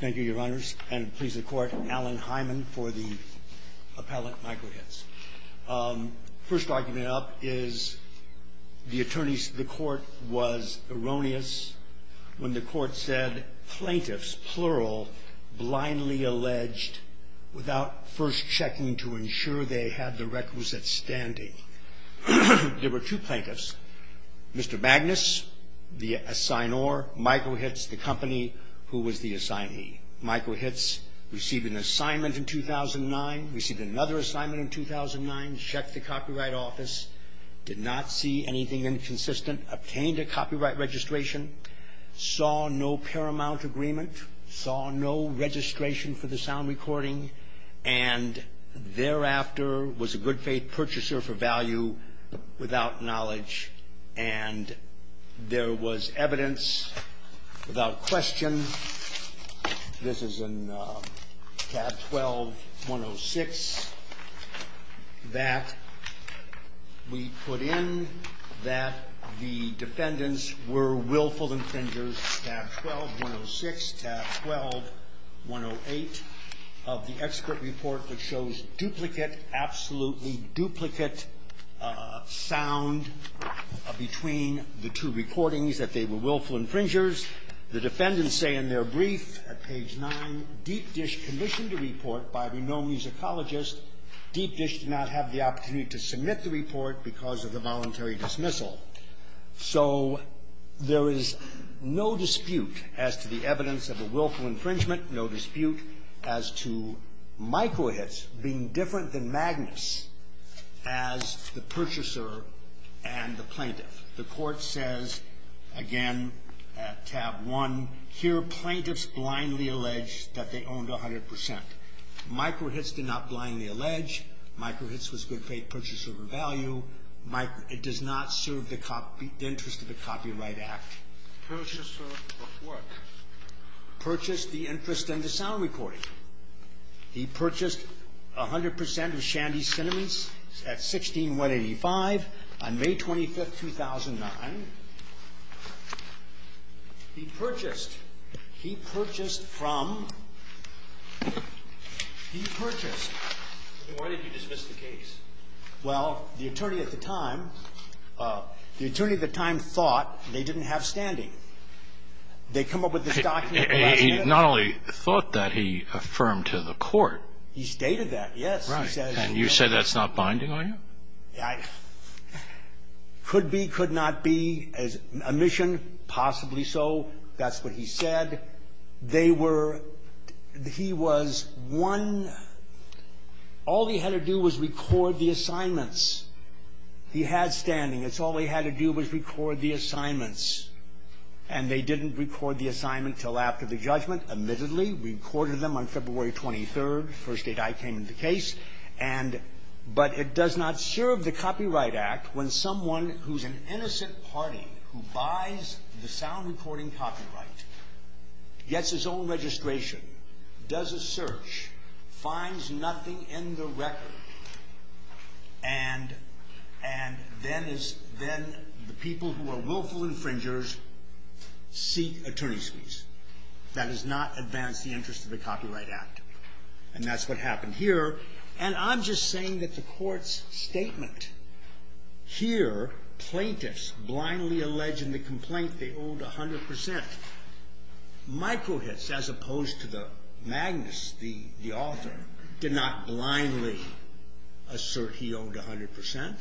Thank you, Your Honors. And please, the Court, Alan Hyman for the appellate Michael Hitz. First argument up is the attorneys, the Court was erroneous when the Court said, plaintiffs, plural, blindly alleged without first checking to ensure they had the requisite standing. There were two plaintiffs, Mr. Magnus, the assignor, Michael Hitz, the company who was the assignee. Michael Hitz received an assignment in 2009, received another assignment in 2009, checked the Copyright Office, did not see anything inconsistent, obtained a copyright registration, saw no paramount agreement, saw no registration for the sound recording, and thereafter was a good-faith purchaser for value without knowledge. And there was evidence without question, this is in tab 12-106, that we put in that the defendants were willful infringers, tab 12-106, tab 12-108 of the expert report that shows duplicate, absolutely duplicate sound between the two recordings, that they were willful infringers. The defendants say in their brief at page 9, Deep Dish commissioned a report by a renowned musicologist. Deep Dish did not have the opportunity to submit the report because of the voluntary dismissal. So there is no dispute as to the evidence of a willful infringement, no dispute as to Michael Hitz being different than Magnus as the purchaser and the plaintiff. The Court says, again, tab 1, here plaintiffs blindly allege that they owned 100%. Michael Hitz did not blindly allege. Michael Hitz was a good-faith purchaser for value. It does not serve the interest of the Copyright Act. Purchaser of what? Purchased the interest in the sound recording. He purchased 100% of Shandy's Cinnamons at 16-185 on May 25, 2009. He purchased, he purchased from, he purchased. Why did you dismiss the case? Well, the attorney at the time, the attorney at the time thought they didn't have standing. They come up with this document. He not only thought that, he affirmed to the Court. He stated that, yes. Right. And you said that's not binding on you? Could be, could not be, omission, possibly so. That's what he said. And they were, he was one, all he had to do was record the assignments. He had standing. That's all he had to do was record the assignments. And they didn't record the assignment until after the judgment, admittedly. We recorded them on February 23rd. The first date I came into the case. And, but it does not serve the Copyright Act when someone who's an innocent party who buys the sound recording copyright, gets his own registration, does a search, finds nothing in the record, and, and then is, then the people who are willful infringers seek attorney's fees. That does not advance the interest of the Copyright Act. And that's what happened here. And I'm just saying that the Court's statement here, plaintiffs blindly allege in the complaint they owed 100 percent. Mikrohitz, as opposed to the magnus, the, the author, did not blindly assert he owed 100 percent.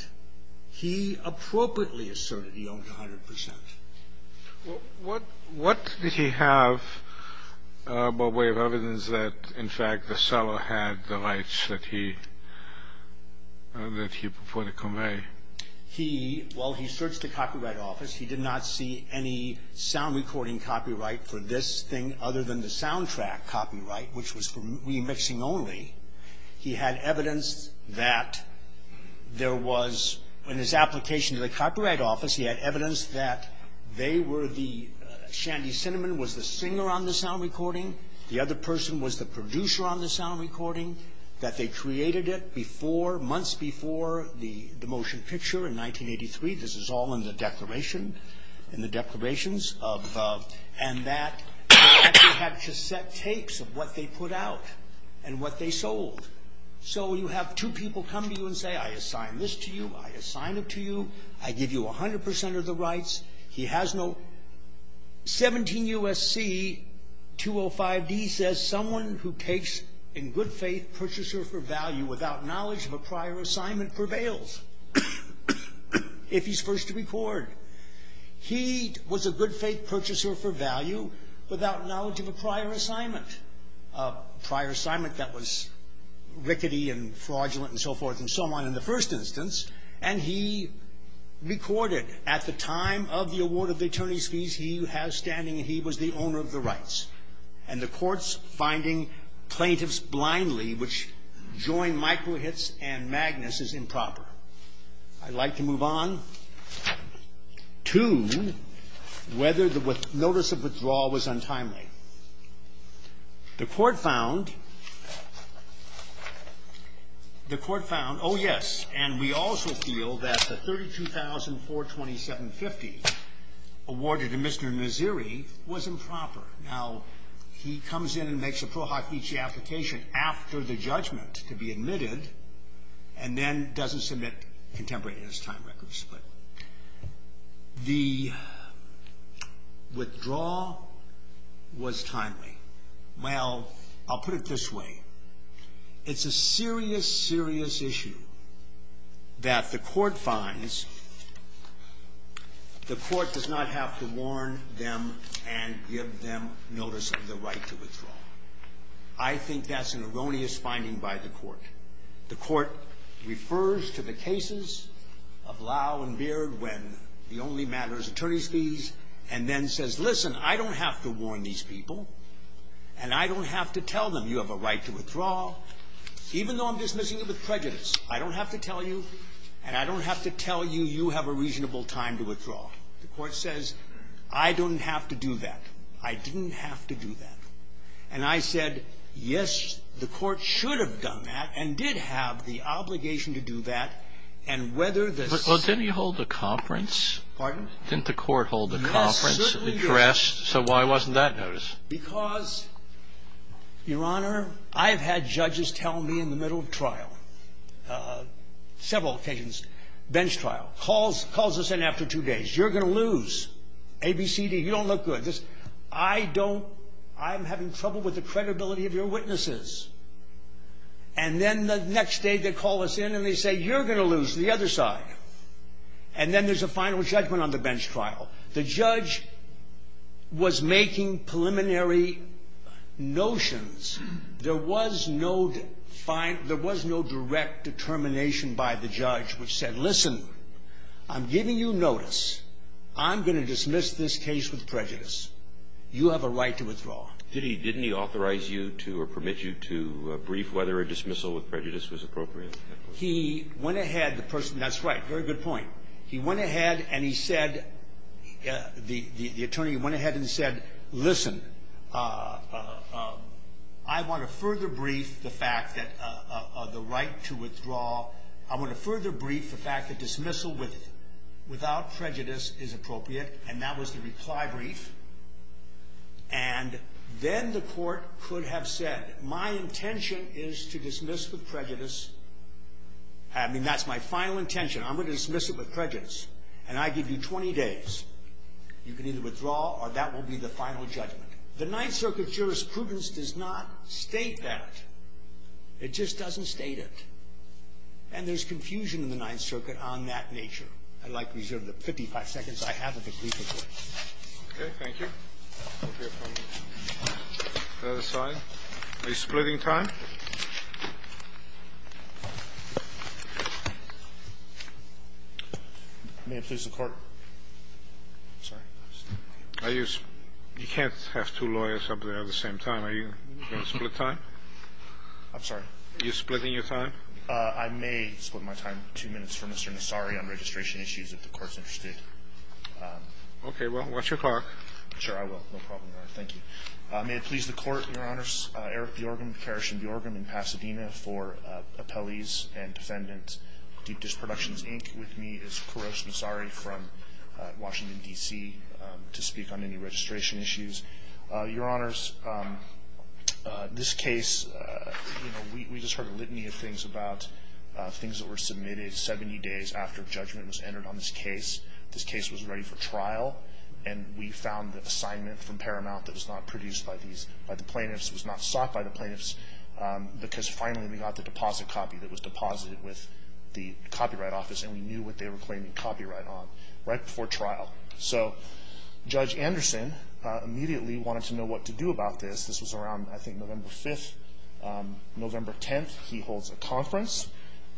He appropriately asserted he owed 100 percent. What, what did he have by way of evidence that, in fact, the seller had the rights that he, that he put to convey? He, well, he searched the Copyright Office. He did not see any sound recording copyright for this thing other than the soundtrack copyright, which was for remixing only. He had evidence that there was, in his application to the Copyright Office, he had evidence that they were the, Shandy Cinnamon was the singer on the sound recording, the other person was the producer on the sound recording, that they created it before, months before the, the motion picture in 1983. This is all in the declaration, in the declarations of, and that they actually had cassette tapes of what they put out and what they sold. So you have two people come to you and say, I assign this to you, I assign it to you, I give you 100 percent of the rights. He has no 17 U.S.C. 205D says, someone who takes in good faith, purchase her for value without knowledge of a prior assignment prevails, if he's first to record. He was a good faith purchaser for value without knowledge of a prior assignment, a prior assignment that was rickety and fraudulent and so forth and so on in the first instance, and he recorded at the time of the award of the attorney's fees, he has standing, he was the owner of the rights, and the courts finding plaintiffs blindly, which joined Michael Hitz and Magnus, is improper. I'd like to move on to whether the notice of withdrawal was untimely. The court found, the court found, oh, yes, and we also feel that the 32,427.50 awarded to Mr. Naziri was improper. Now, he comes in and makes a pro hoc each application after the judgment to be admitted and then doesn't submit contemporary in his time records. The withdrawal was timely. Well, I'll put it this way. It's a serious, serious issue that the court finds the court does not have to warn them and give them notice of the right to withdraw. I think that's an erroneous finding by the court. The court refers to the cases of Lau and Beard when the only matter is attorney's fees and then says, listen, I don't have to warn these people, and I don't have to tell them you have a right to withdraw, even though I'm dismissing it with prejudice. I don't have to tell you, and I don't have to tell you you have a reasonable time to withdraw. The court says, I don't have to do that. I didn't have to do that. And I said, yes, the court should have done that and did have the obligation to do that, and whether this ---- Well, didn't he hold a conference? Pardon? Didn't the court hold a conference address? Yes, certainly. So why wasn't that noticed? Because, Your Honor, I've had judges tell me in the middle of trial, several occasions, bench trial, calls the Senate after two days, you're going to lose, A, B, C, D, you don't look good. I don't ---- I'm having trouble with the credibility of your witnesses. And then the next day they call us in and they say, you're going to lose, the other side. And then there's a final judgment on the bench trial. The judge was making preliminary notions. There was no direct determination by the judge which said, listen, I'm giving you notice. I'm going to dismiss this case with prejudice. You have a right to withdraw. Didn't he authorize you to or permit you to brief whether a dismissal with prejudice was appropriate? He went ahead, the person ---- that's right, very good point. He went ahead and he said, the attorney went ahead and said, listen, I want to further brief the fact that the right to withdraw, I want to further brief the fact that dismissal with prejudice is appropriate. And that was the reply brief. And then the court could have said, my intention is to dismiss with prejudice. I mean, that's my final intention. I'm going to dismiss it with prejudice. And I give you 20 days. You can either withdraw or that will be the final judgment. The Ninth Circuit jurisprudence does not state that. It just doesn't state it. And there's confusion in the Ninth Circuit on that nature. I'd like to reserve the 55 seconds I have at the briefing point. Okay. Thank you. Are you splitting time? May it please the Court? I'm sorry. You can't have two lawyers up there at the same time. Are you going to split time? I'm sorry. Are you splitting your time? I may split my time two minutes for Mr. Nassari on registration issues, if the Court's interested. Okay. Well, watch your clock. Sure, I will. No problem, Your Honor. Thank you. May it please the Court, Your Honors? Eric Bjorgum, Karish and Bjorgum in Pasadena for Appellees and Defendants, Deep Dish Productions, Inc. With me is Kourosh Nassari from Washington, D.C., to speak on any registration issues. Your Honors, this case, you know, we just heard a litany of things about things that were submitted 70 days after judgment was entered on this case. This case was ready for trial, and we found the assignment from Paramount that was not produced by the plaintiffs, was not sought by the plaintiffs, because finally we got the deposit copy that was deposited with the Copyright Office, and we knew what they were claiming copyright on right before trial. So Judge Anderson immediately wanted to know what to do about this. This was around, I think, November 5th, November 10th. He holds a conference,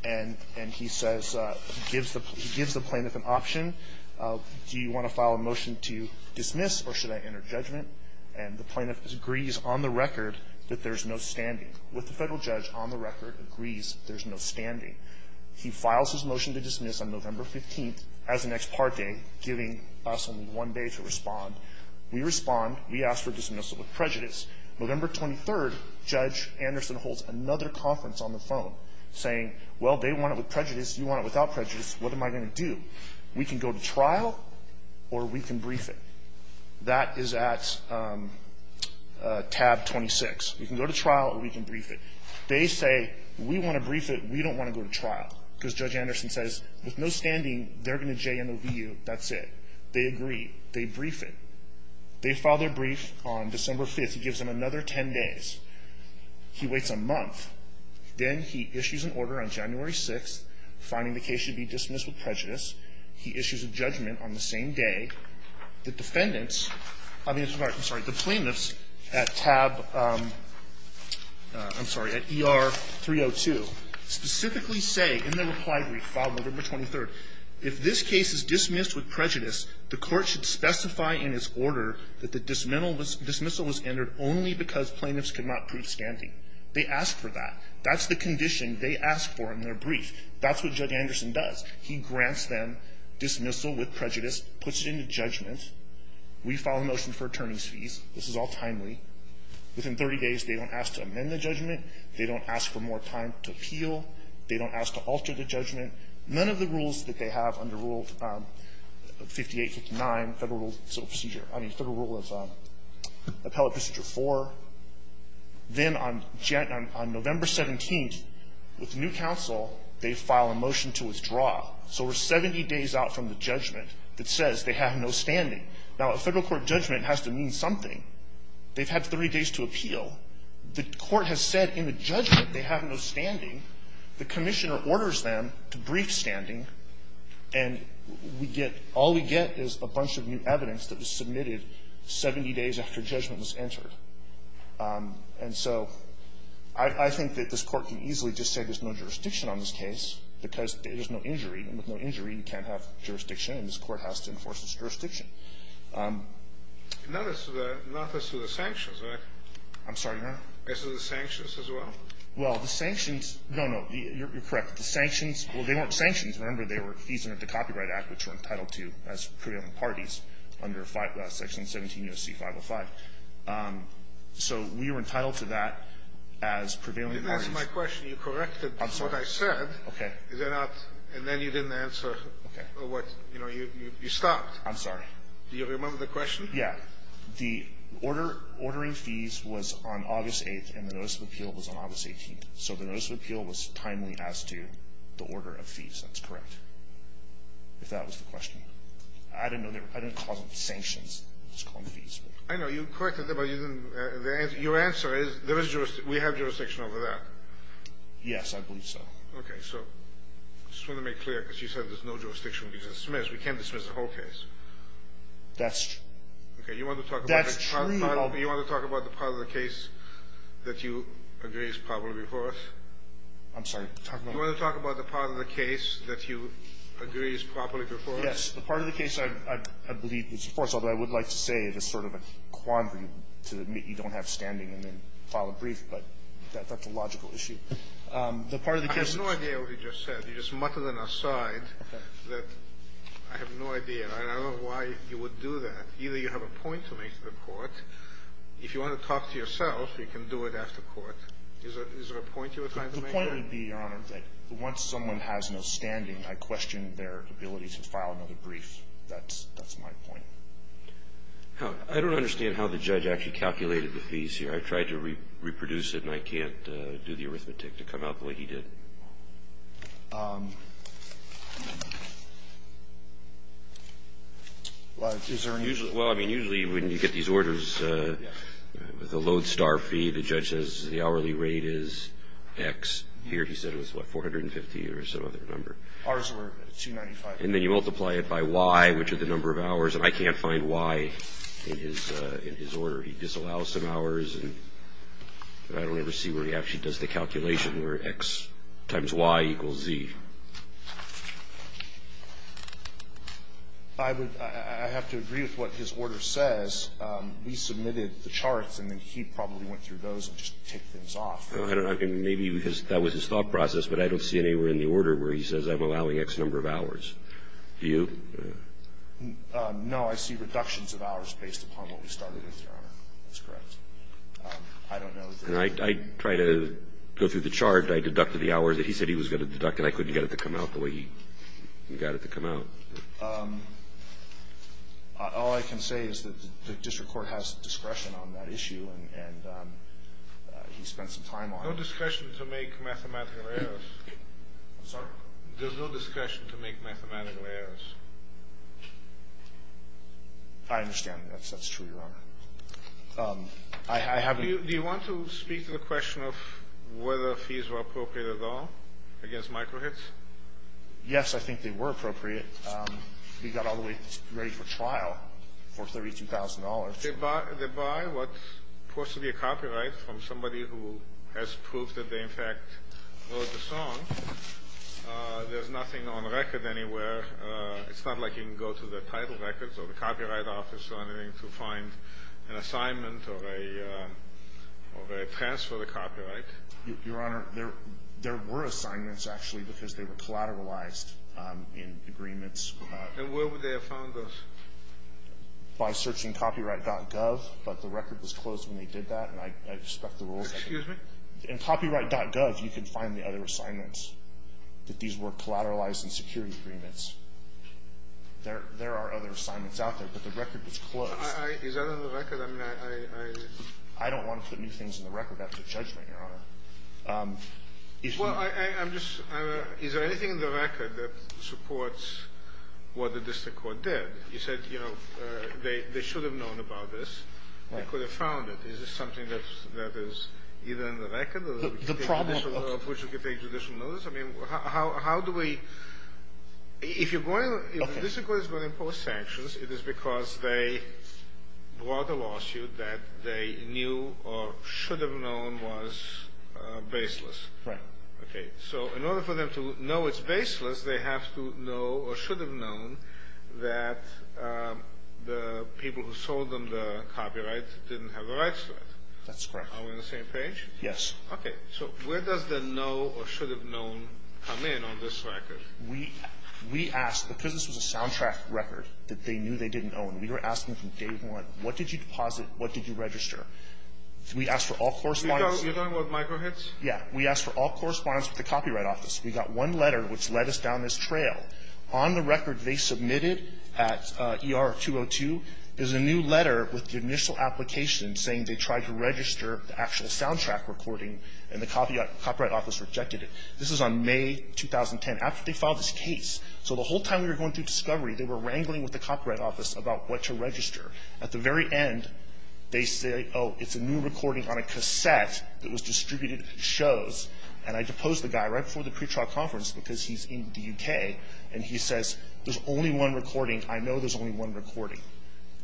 and he says he gives the plaintiff an option. Do you want to file a motion to dismiss, or should I enter judgment? And the plaintiff agrees on the record that there's no standing, with the federal judge on the record agrees there's no standing. He files his motion to dismiss on November 15th as an ex parte, giving us only one day to respond. We respond. We ask for a dismissal with prejudice. November 23rd, Judge Anderson holds another conference on the phone, saying, well, they want it with prejudice, you want it without prejudice, what am I going to do? We can go to trial, or we can brief it. That is at tab 26. You can go to trial, or we can brief it. They say, we want to brief it. We don't want to go to trial. Because Judge Anderson says, with no standing, they're going to JNOVU, that's it. They agree. They brief it. They file their brief on December 5th. He gives them another 10 days. He waits a month. Then he issues an order on January 6th, finding the case should be dismissed with prejudice. He issues a judgment on the same day. The defendants, I mean, I'm sorry, the plaintiffs at tab, I'm sorry, at ER 302, specifically say in their reply brief filed November 23rd, if this case is dismissed with prejudice, the court should specify in its order that the dismissal was entered only because plaintiffs could not prove standing. They ask for that. That's the condition they ask for in their brief. That's what Judge Anderson does. He grants them dismissal with prejudice, puts it into judgment. We file a motion for attorney's fees. This is all timely. Within 30 days, they don't ask to amend the judgment. They don't ask for more time to appeal. They don't ask to alter the judgment. None of the rules that they have under Rule 58, 59, Federal Rule of Appellate Procedure 4. Then on November 17th, with new counsel, they file a motion to withdraw. So we're 70 days out from the judgment that says they have no standing. Now, a Federal court judgment has to mean something. They've had 30 days to appeal. The court has said in the judgment they have no standing. The commissioner orders them to brief standing, and we get – all we get is a bunch of new evidence that was submitted 70 days after judgment was entered. And so I think that this Court can easily just say there's no jurisdiction on this case because there's no injury. And with no injury, you can't have jurisdiction, and this Court has to enforce its jurisdiction. Kennedy. And not as to the sanctions, right? I'm sorry, Your Honor? As to the sanctions as well? Well, the sanctions – no, no. You're correct. The sanctions – well, they weren't sanctions. Remember, they were fees under the Copyright Act, which we're entitled to as prevailing parties under Section 17 U.S.C. 505. So we were entitled to that as prevailing parties. You didn't answer my question. You corrected what I said. I'm sorry. Okay. Is there not – and then you didn't answer what – you know, you stopped. I'm sorry. Do you remember the question? Yeah. The order – ordering fees was on August 8th, and the notice of appeal was on August 18th. So the notice of appeal was timely as to the order of fees. That's correct, if that was the question. I didn't know they were – I didn't call them sanctions. I was calling them fees. I know. You corrected them, but you didn't – your answer is there is – we have jurisdiction over that. Yes, I believe so. Okay. So I just want to make clear, because you said there's no jurisdiction we can dismiss. We can't dismiss the whole case. That's true. Okay. You want to talk about the part of the case that you agree is properly before us? I'm sorry. Talk about what? You want to talk about the part of the case that you agree is properly before us? Yes. The part of the case I believe is before us, although I would like to say it is sort of a quandary to admit you don't have standing and then file a brief, but that's a logical issue. The part of the case is – I have no idea what you just said. You just muttered an aside that I have no idea. And I don't know why you would do that. Either you have a point to make to the Court. If you want to talk to yourself, you can do it after court. Is there a point you were trying to make there? The point would be, Your Honor, that once someone has no standing, I question their ability to file another brief. That's my point. I don't understand how the judge actually calculated the fees here. I tried to reproduce it, and I can't do the arithmetic to come out the way he did. Well, is there any – Well, I mean, usually when you get these orders, the load star fee, the judge says the hourly rate is X. Here he said it was, what, 450 or some other number. Ours were 295. And then you multiply it by Y, which is the number of hours, and I can't find Y in his order. He disallows some hours, and I don't ever see where he actually does the calculation where X times Y equals Z. I would – I have to agree with what his order says. We submitted the charts, and then he probably went through those and just ticked things off. I don't know. Maybe that was his thought process, but I don't see anywhere in the order where he says I'm allowing X number of hours. Do you? No, I see reductions of hours based upon what we started with, Your Honor. That's correct. I don't know. And I tried to go through the chart. I deducted the hours that he said he was going to deduct, and I couldn't get it to come out the way he got it to come out. All I can say is that the district court has discretion on that issue, and he spent some time on it. No discretion to make mathematical errors. Sorry? There's no discretion to make mathematical errors. I understand. That's true, Your Honor. I have – Do you want to speak to the question of whether fees were appropriate at all against microhits? Yes, I think they were appropriate. We got all the way ready for trial for $32,000. They buy what's supposed to be a copyright from somebody who has proof that they, in fact, wrote the song. There's nothing on record anywhere. It's not like you can go to the title records or the copyright office or anything to find an assignment or a transfer of the copyright. Your Honor, there were assignments, actually, because they were collateralized in agreements. And where would they have found those? By searching copyright.gov, but the record was closed when they did that, and I respect the rules. Excuse me? In copyright.gov, you can find the other assignments, that these were collateralized in security agreements. There are other assignments out there, but the record was closed. Is that on the record? I mean, I – I don't want to put new things in the record after judgment, Your Honor. Well, I'm just – is there anything in the record that supports what the district court did? You said, you know, they should have known about this. Right. They could have found it. Is this something that is either in the record or – The problem – Of which you could take judicial notice? I mean, how do we – if you're going – if the district court is going to impose sanctions, it is because they brought a lawsuit that they knew or should have known was baseless. Right. Okay. So in order for them to know it's baseless, they have to know or should have known that the people who sold them the copyright didn't have the rights to it. That's correct. Are we on the same page? Yes. Okay. So where does the know or should have known come in on this record? We asked – because this was a soundtrack record that they knew they didn't own. We were asking from day one, what did you deposit? What did you register? We asked for all correspondence – You're talking about micro hits? Yeah. We asked for all correspondence with the Copyright Office. We got one letter which led us down this trail. On the record they submitted at ER-202 is a new letter with the initial application saying they tried to register the actual soundtrack recording and the Copyright Office rejected it. This is on May 2010, after they filed this case. So the whole time we were going through discovery, they were wrangling with the Copyright Office about what to register. At the very end they say, oh, it's a new recording on a cassette that was distributed at shows. And I deposed the guy right before the pretrial conference because he's in the U.K. And he says, there's only one recording. I know there's only one recording.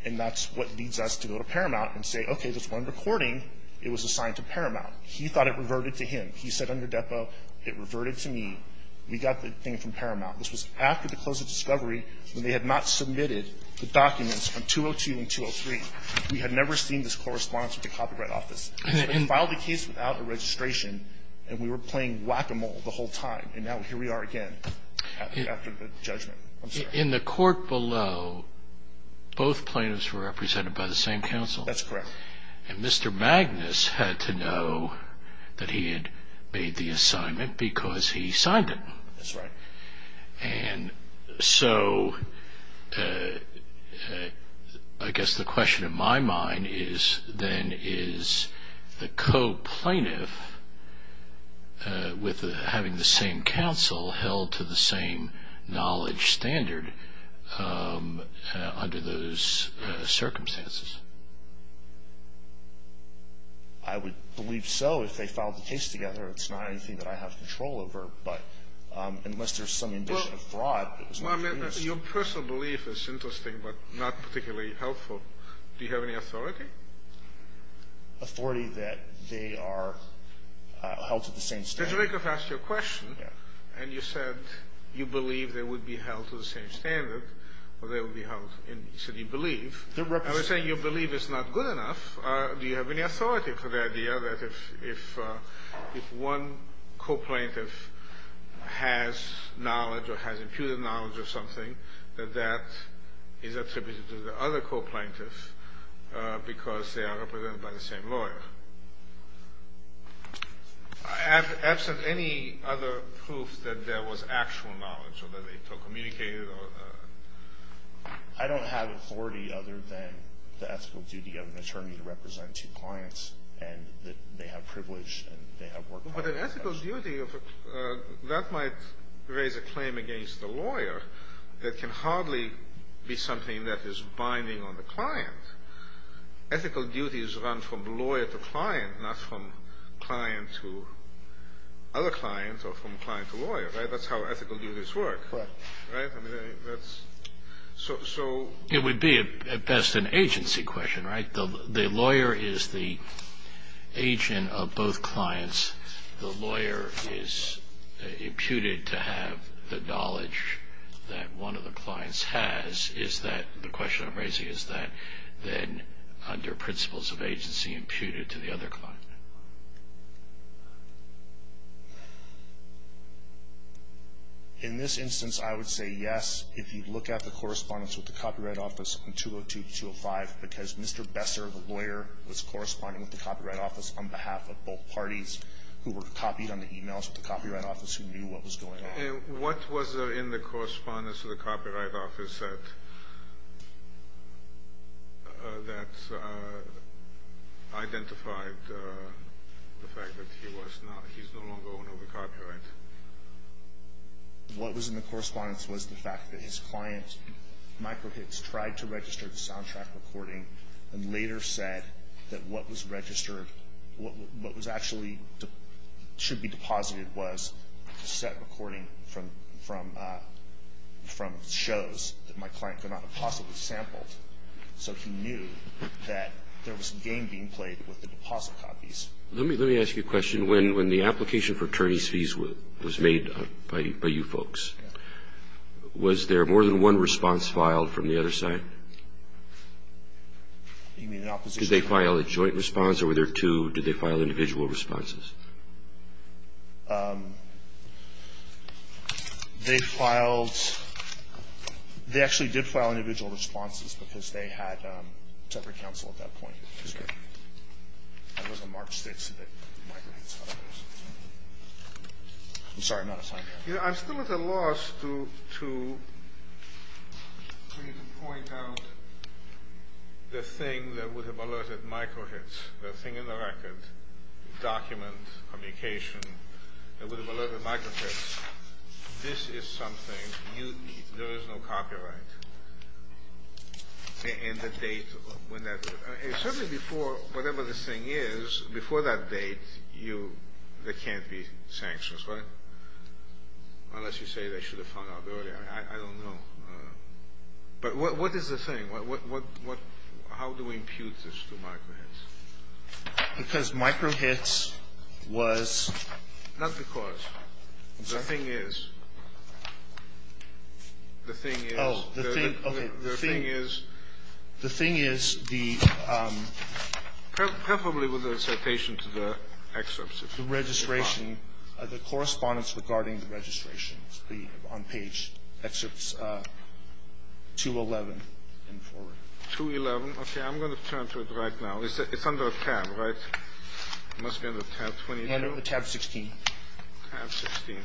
And that's what leads us to go to Paramount and say, okay, there's one recording. It was assigned to Paramount. He thought it reverted to him. He said under depo, it reverted to me. We got the thing from Paramount. This was after the close of discovery when they had not submitted the documents from 202 and 203. We had never seen this correspondence with the Copyright Office. They filed the case without a registration, and we were playing whack-a-mole the whole time. And now here we are again after the judgment. In the court below, both plaintiffs were represented by the same counsel. That's correct. And Mr. Magnus had to know that he had made the assignment because he signed it. That's right. And so I guess the question in my mind is then, is the co-plaintiff having the same counsel held to the same knowledge standard under those circumstances? I would believe so if they filed the case together. It's not anything that I have control over. But unless there's some ambition of fraud. Your personal belief is interesting but not particularly helpful. Do you have any authority? Authority that they are held to the same standard. Judge Rakoff asked you a question, and you said you believe they would be held to the same standard, or they would be held, and you said you believe. I'm not saying your belief is not good enough. Do you have any authority for the idea that if one co-plaintiff has knowledge or has imputed knowledge of something, that that is attributed to the other co-plaintiff because they are represented by the same lawyer? Absent any other proof that there was actual knowledge or that they communicated? I don't have authority other than the ethical duty of an attorney to represent two clients and that they have privilege and they have work ethics. But an ethical duty, that might raise a claim against the lawyer that can hardly be something that is binding on the client. Ethical duties run from lawyer to client, not from client to other client or from client to lawyer, right? That's how ethical duties work. Correct. Right? It would be at best an agency question, right? The lawyer is the agent of both clients. The lawyer is imputed to have the knowledge that one of the clients has. Is that the question I'm raising? Is that then under principles of agency imputed to the other client? In this instance, I would say yes if you look at the correspondence with the Copyright Office on 202-205 because Mr. Besser, the lawyer, was corresponding with the Copyright Office on behalf of both parties who were copied on the e-mails with the Copyright Office who knew what was going on. What was in the correspondence that the Copyright Office said that identified the fact that he's no longer owner of the copyright? What was in the correspondence was the fact that his client, Michael Hicks, tried to register the soundtrack recording and later said that what was registered, what was actually should be deposited was a cassette recording from shows that my client could not have possibly sampled. So he knew that there was a game being played with the deposit copies. Let me ask you a question. When the application for attorney's fees was made by you folks, was there more than one response filed from the other side? You mean the opposition? Did they file a joint response or were there two? Did they file individual responses? They filed – they actually did file individual responses because they had separate counsel at that point. Okay. It was on March 6th that Michael Hicks filed those. I'm sorry. I'm not a scientist. I'm still at a loss to point out the thing that would have alerted Michael Hicks, the thing in the record, document, communication, that would have alerted Michael Hicks, this is something you need. There is no copyright. And the date when that – certainly before whatever this thing is, before that date, there can't be sanctions, right? Unless you say they should have found out earlier. I don't know. But what is the thing? How do we impute this to Michael Hicks? Because Michael Hicks was – Not because. I'm sorry? The thing is – the thing is – Oh, the thing – okay. The thing is – The thing is the – Preferably with a citation to the excerpts. The registration – the correspondence regarding the registration on page excerpts 211 and forward. 211. Okay. I'm going to turn to it right now. It's under a tab, right? It must be under tab 22. Under tab 16. Tab 16.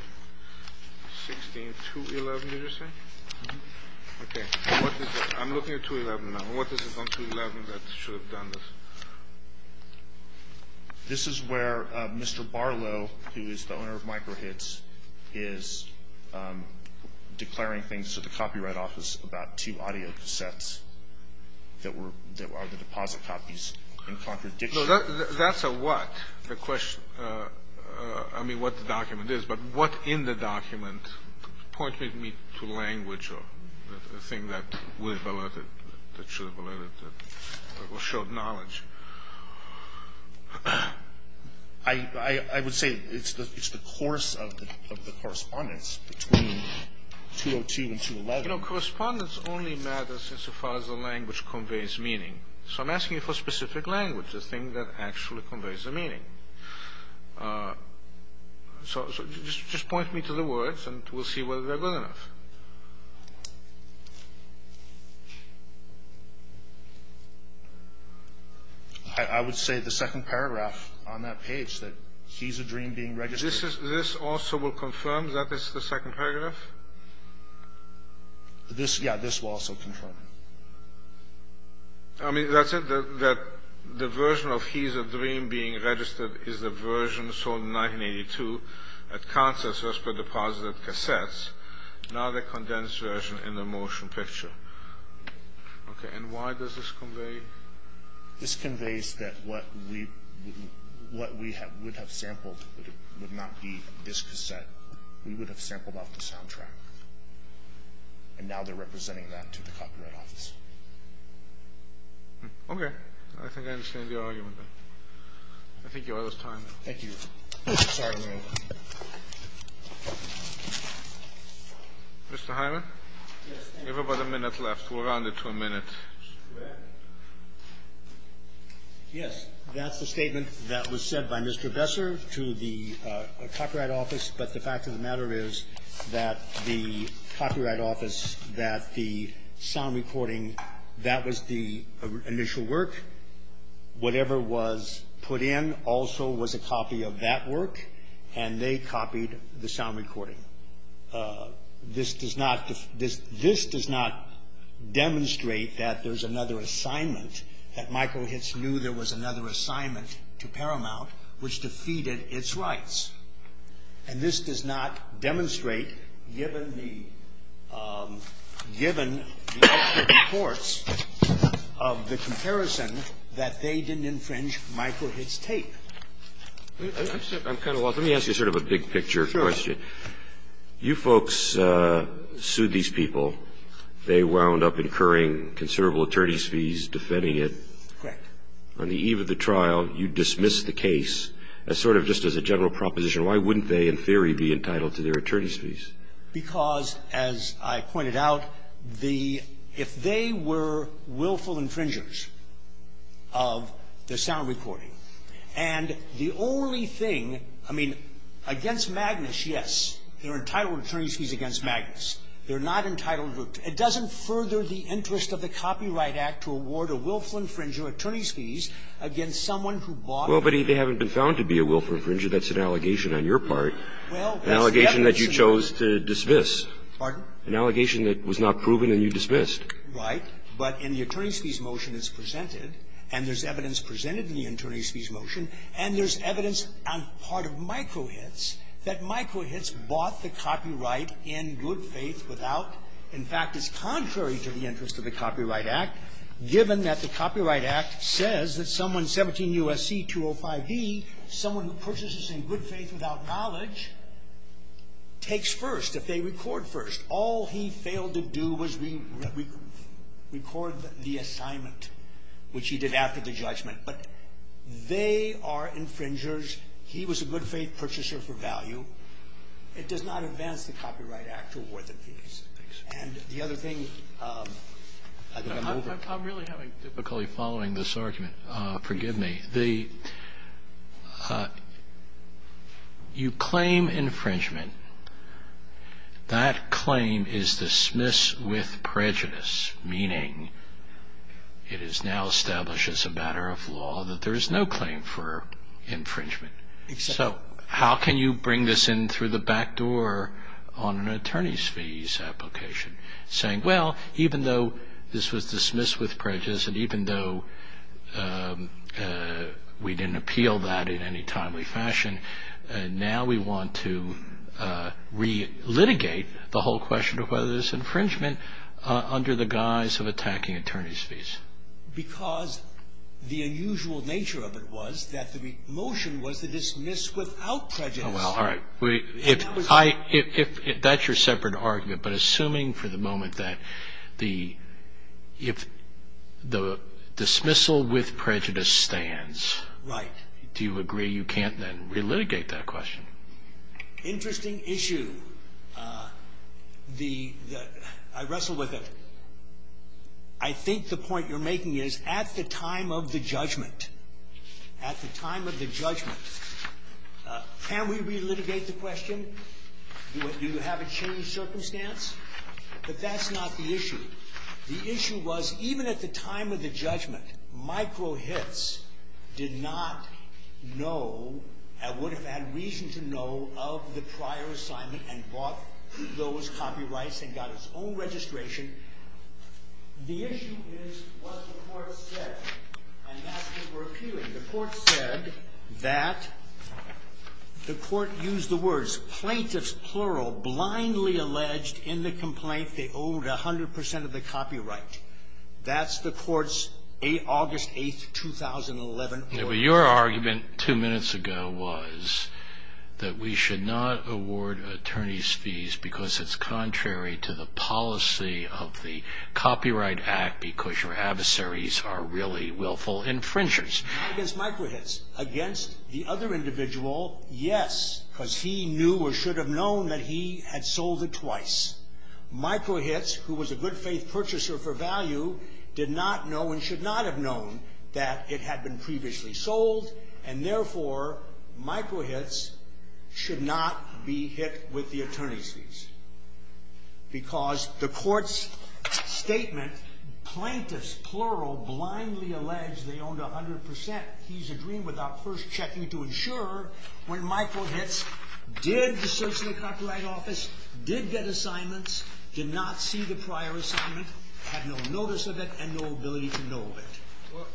16211, did you say? Okay. I'm looking at 211 now. What is it on 211 that should have done this? This is where Mr. Barlow, who is the owner of Michael Hicks, is declaring things to the Copyright Office about two audio cassettes that were – that are the deposit copies in contradiction. That's a what? The question – I mean, what the document is. But what in the document pointed me to language or a thing that would have alerted – I would say it's the course of the correspondence between 202 and 211. You know, correspondence only matters insofar as the language conveys meaning. So I'm asking you for specific language, a thing that actually conveys a meaning. So just point me to the words and we'll see whether they're good enough. I would say the second paragraph on that page, that he's a dream being registered. This also will confirm that this is the second paragraph? Yeah, this will also confirm it. I mean, that's it, that the version of he's a dream being registered is the version sold in 1982 at concerts as per deposit of cassettes. Now the condensed version in the motion picture. Okay, and why does this convey? This conveys that what we would have sampled would not be this cassette. We would have sampled off the soundtrack. And now they're representing that to the Copyright Office. Okay, I think I understand the argument. I think you're out of time. Thank you. Sorry to interrupt. Mr. Hyman? Yes. You have about a minute left. We'll round it to a minute. Go ahead. Yes, that's the statement that was said by Mr. Besser to the Copyright Office, but the fact of the matter is that the Copyright Office, that the sound recording, that was the initial work. Whatever was put in also was a copy of that work, and they copied the sound recording. This does not demonstrate that there's another assignment, that Michael Hitz knew there was another assignment to Paramount, which defeated its rights. And this does not demonstrate, given the reports of the comparison, that they didn't infringe Michael Hitz tape. I'm kind of lost. Let me ask you sort of a big-picture question. You folks sued these people. They wound up incurring considerable attorneys' fees defending it. Correct. On the eve of the trial, you dismissed the case as sort of just as a general proposition. Why wouldn't they, in theory, be entitled to their attorneys' fees? Because, as I pointed out, the — if they were willful infringers of the sound recording and the only thing, I mean, against Magnus, yes, they're entitled to attorneys' fees against Magnus. They're not entitled to — it doesn't further the interest of the Copyright Act to award a willful infringer attorneys' fees against someone who bought it. Well, but they haven't been found to be a willful infringer. That's an allegation on your part, an allegation that you chose to dismiss. Pardon? An allegation that was not proven and you dismissed. Right. But in the attorneys' fees motion, it's presented, and there's evidence presented in the attorneys' fees motion, and there's evidence on part of MikroHITS that MikroHITS bought the copyright in good faith without — in fact, it's contrary to the interest of the Copyright Act, given that the Copyright Act says that someone 17 U.S.C. 205e, someone who purchases in good faith without knowledge, takes first if they record the assignment, which he did after the judgment. But they are infringers. He was a good faith purchaser for value. It does not advance the Copyright Act to award them fees. And the other thing — I'm really having difficulty following this argument. Forgive me. The — you claim infringement. That claim is dismissed with prejudice, meaning it is now established as a matter of law that there is no claim for infringement. So how can you bring this in through the back door on an attorneys' fees application, saying, well, even though this was dismissed with prejudice and even though we didn't appeal that in any timely fashion, now we want to re-litigate the whole question of whether there's infringement under the guise of attacking attorneys' fees? Because the unusual nature of it was that the motion was to dismiss without prejudice. Oh, well, all right. If I — that's your separate argument. But assuming for the moment that the — if the dismissal with prejudice stands. Right. Do you agree you can't then re-litigate that question? Interesting issue. The — I wrestle with it. I think the point you're making is at the time of the judgment, at the time of the judgment, can we re-litigate the question? Do you have a changed circumstance? But that's not the issue. The issue was, even at the time of the judgment, micro hits did not know and would have had reason to know of the prior assignment and bought those copyrights and got its own registration. The issue is what the Court said, and that's what we're appealing. The Court said that — the Court used the words plaintiffs, plural, blindly alleged in the complaint they owed 100 percent of the copyright. That's the Court's August 8, 2011 — Your argument two minutes ago was that we should not award attorneys' fees because it's contrary to the policy of the Copyright Act because your adversaries are really willful infringers. Not against micro hits. Against the other individual, yes, because he knew or should have known that he had sold it twice. Micro hits, who was a good-faith purchaser for value, did not know and should not have known that it had been previously sold, and therefore micro hits should not be hit with the attorney's fees because the Court's statement, plaintiffs, plural, blindly alleged they owed 100 percent. He's agreeing without first checking to ensure when micro hits did search the copyright office, did get assignments, did not see the prior assignment, had no notice of it, and no ability to know of it. Well,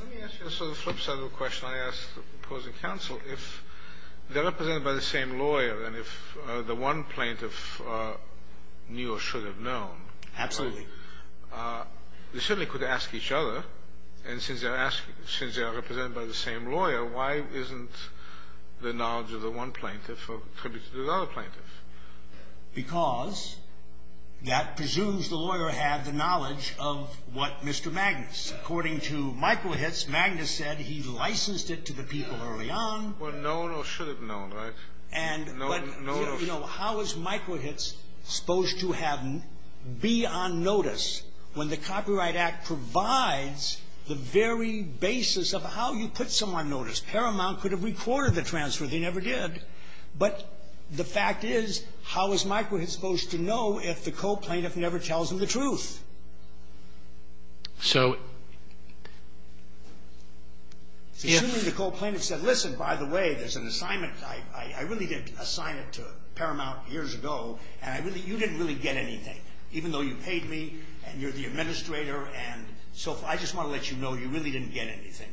let me ask you a sort of flip side of the question I asked the opposing counsel. If they're represented by the same lawyer and if the one plaintiff knew or should have known — Absolutely. They certainly could ask each other. And since they're asked — since they are represented by the same lawyer, why isn't the knowledge of the one plaintiff attributed to the other plaintiff? Because that presumes the lawyer had the knowledge of what Mr. Magnus. According to micro hits, Magnus said he licensed it to the people early on. Well, known or should have known, right? And, you know, how is micro hits supposed to be on notice when the Copyright Act provides the very basis of how you put someone on notice? Paramount could have recorded the transfer. They never did. But the fact is, how is micro hits supposed to know if the co-plaintiff never tells them the truth? So — Assuming the co-plaintiff said, listen, by the way, there's an assignment. I really did assign it to Paramount years ago, and you didn't really get anything, even though you paid me and you're the administrator. And so I just want to let you know you really didn't get anything.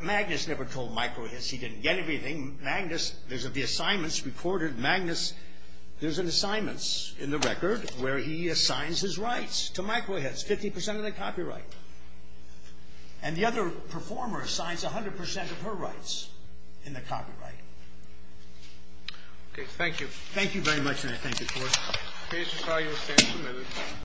Magnus never told micro hits he didn't get anything. Magnus — there's the assignments recorded. Magnus — there's an assignment in the record where he assigns his rights to micro hits, 50 percent of the copyright. And the other performer assigns 100 percent of her rights in the copyright. Okay. Thank you. Thank you very much, and I thank you, George. Please retire your stand for a minute.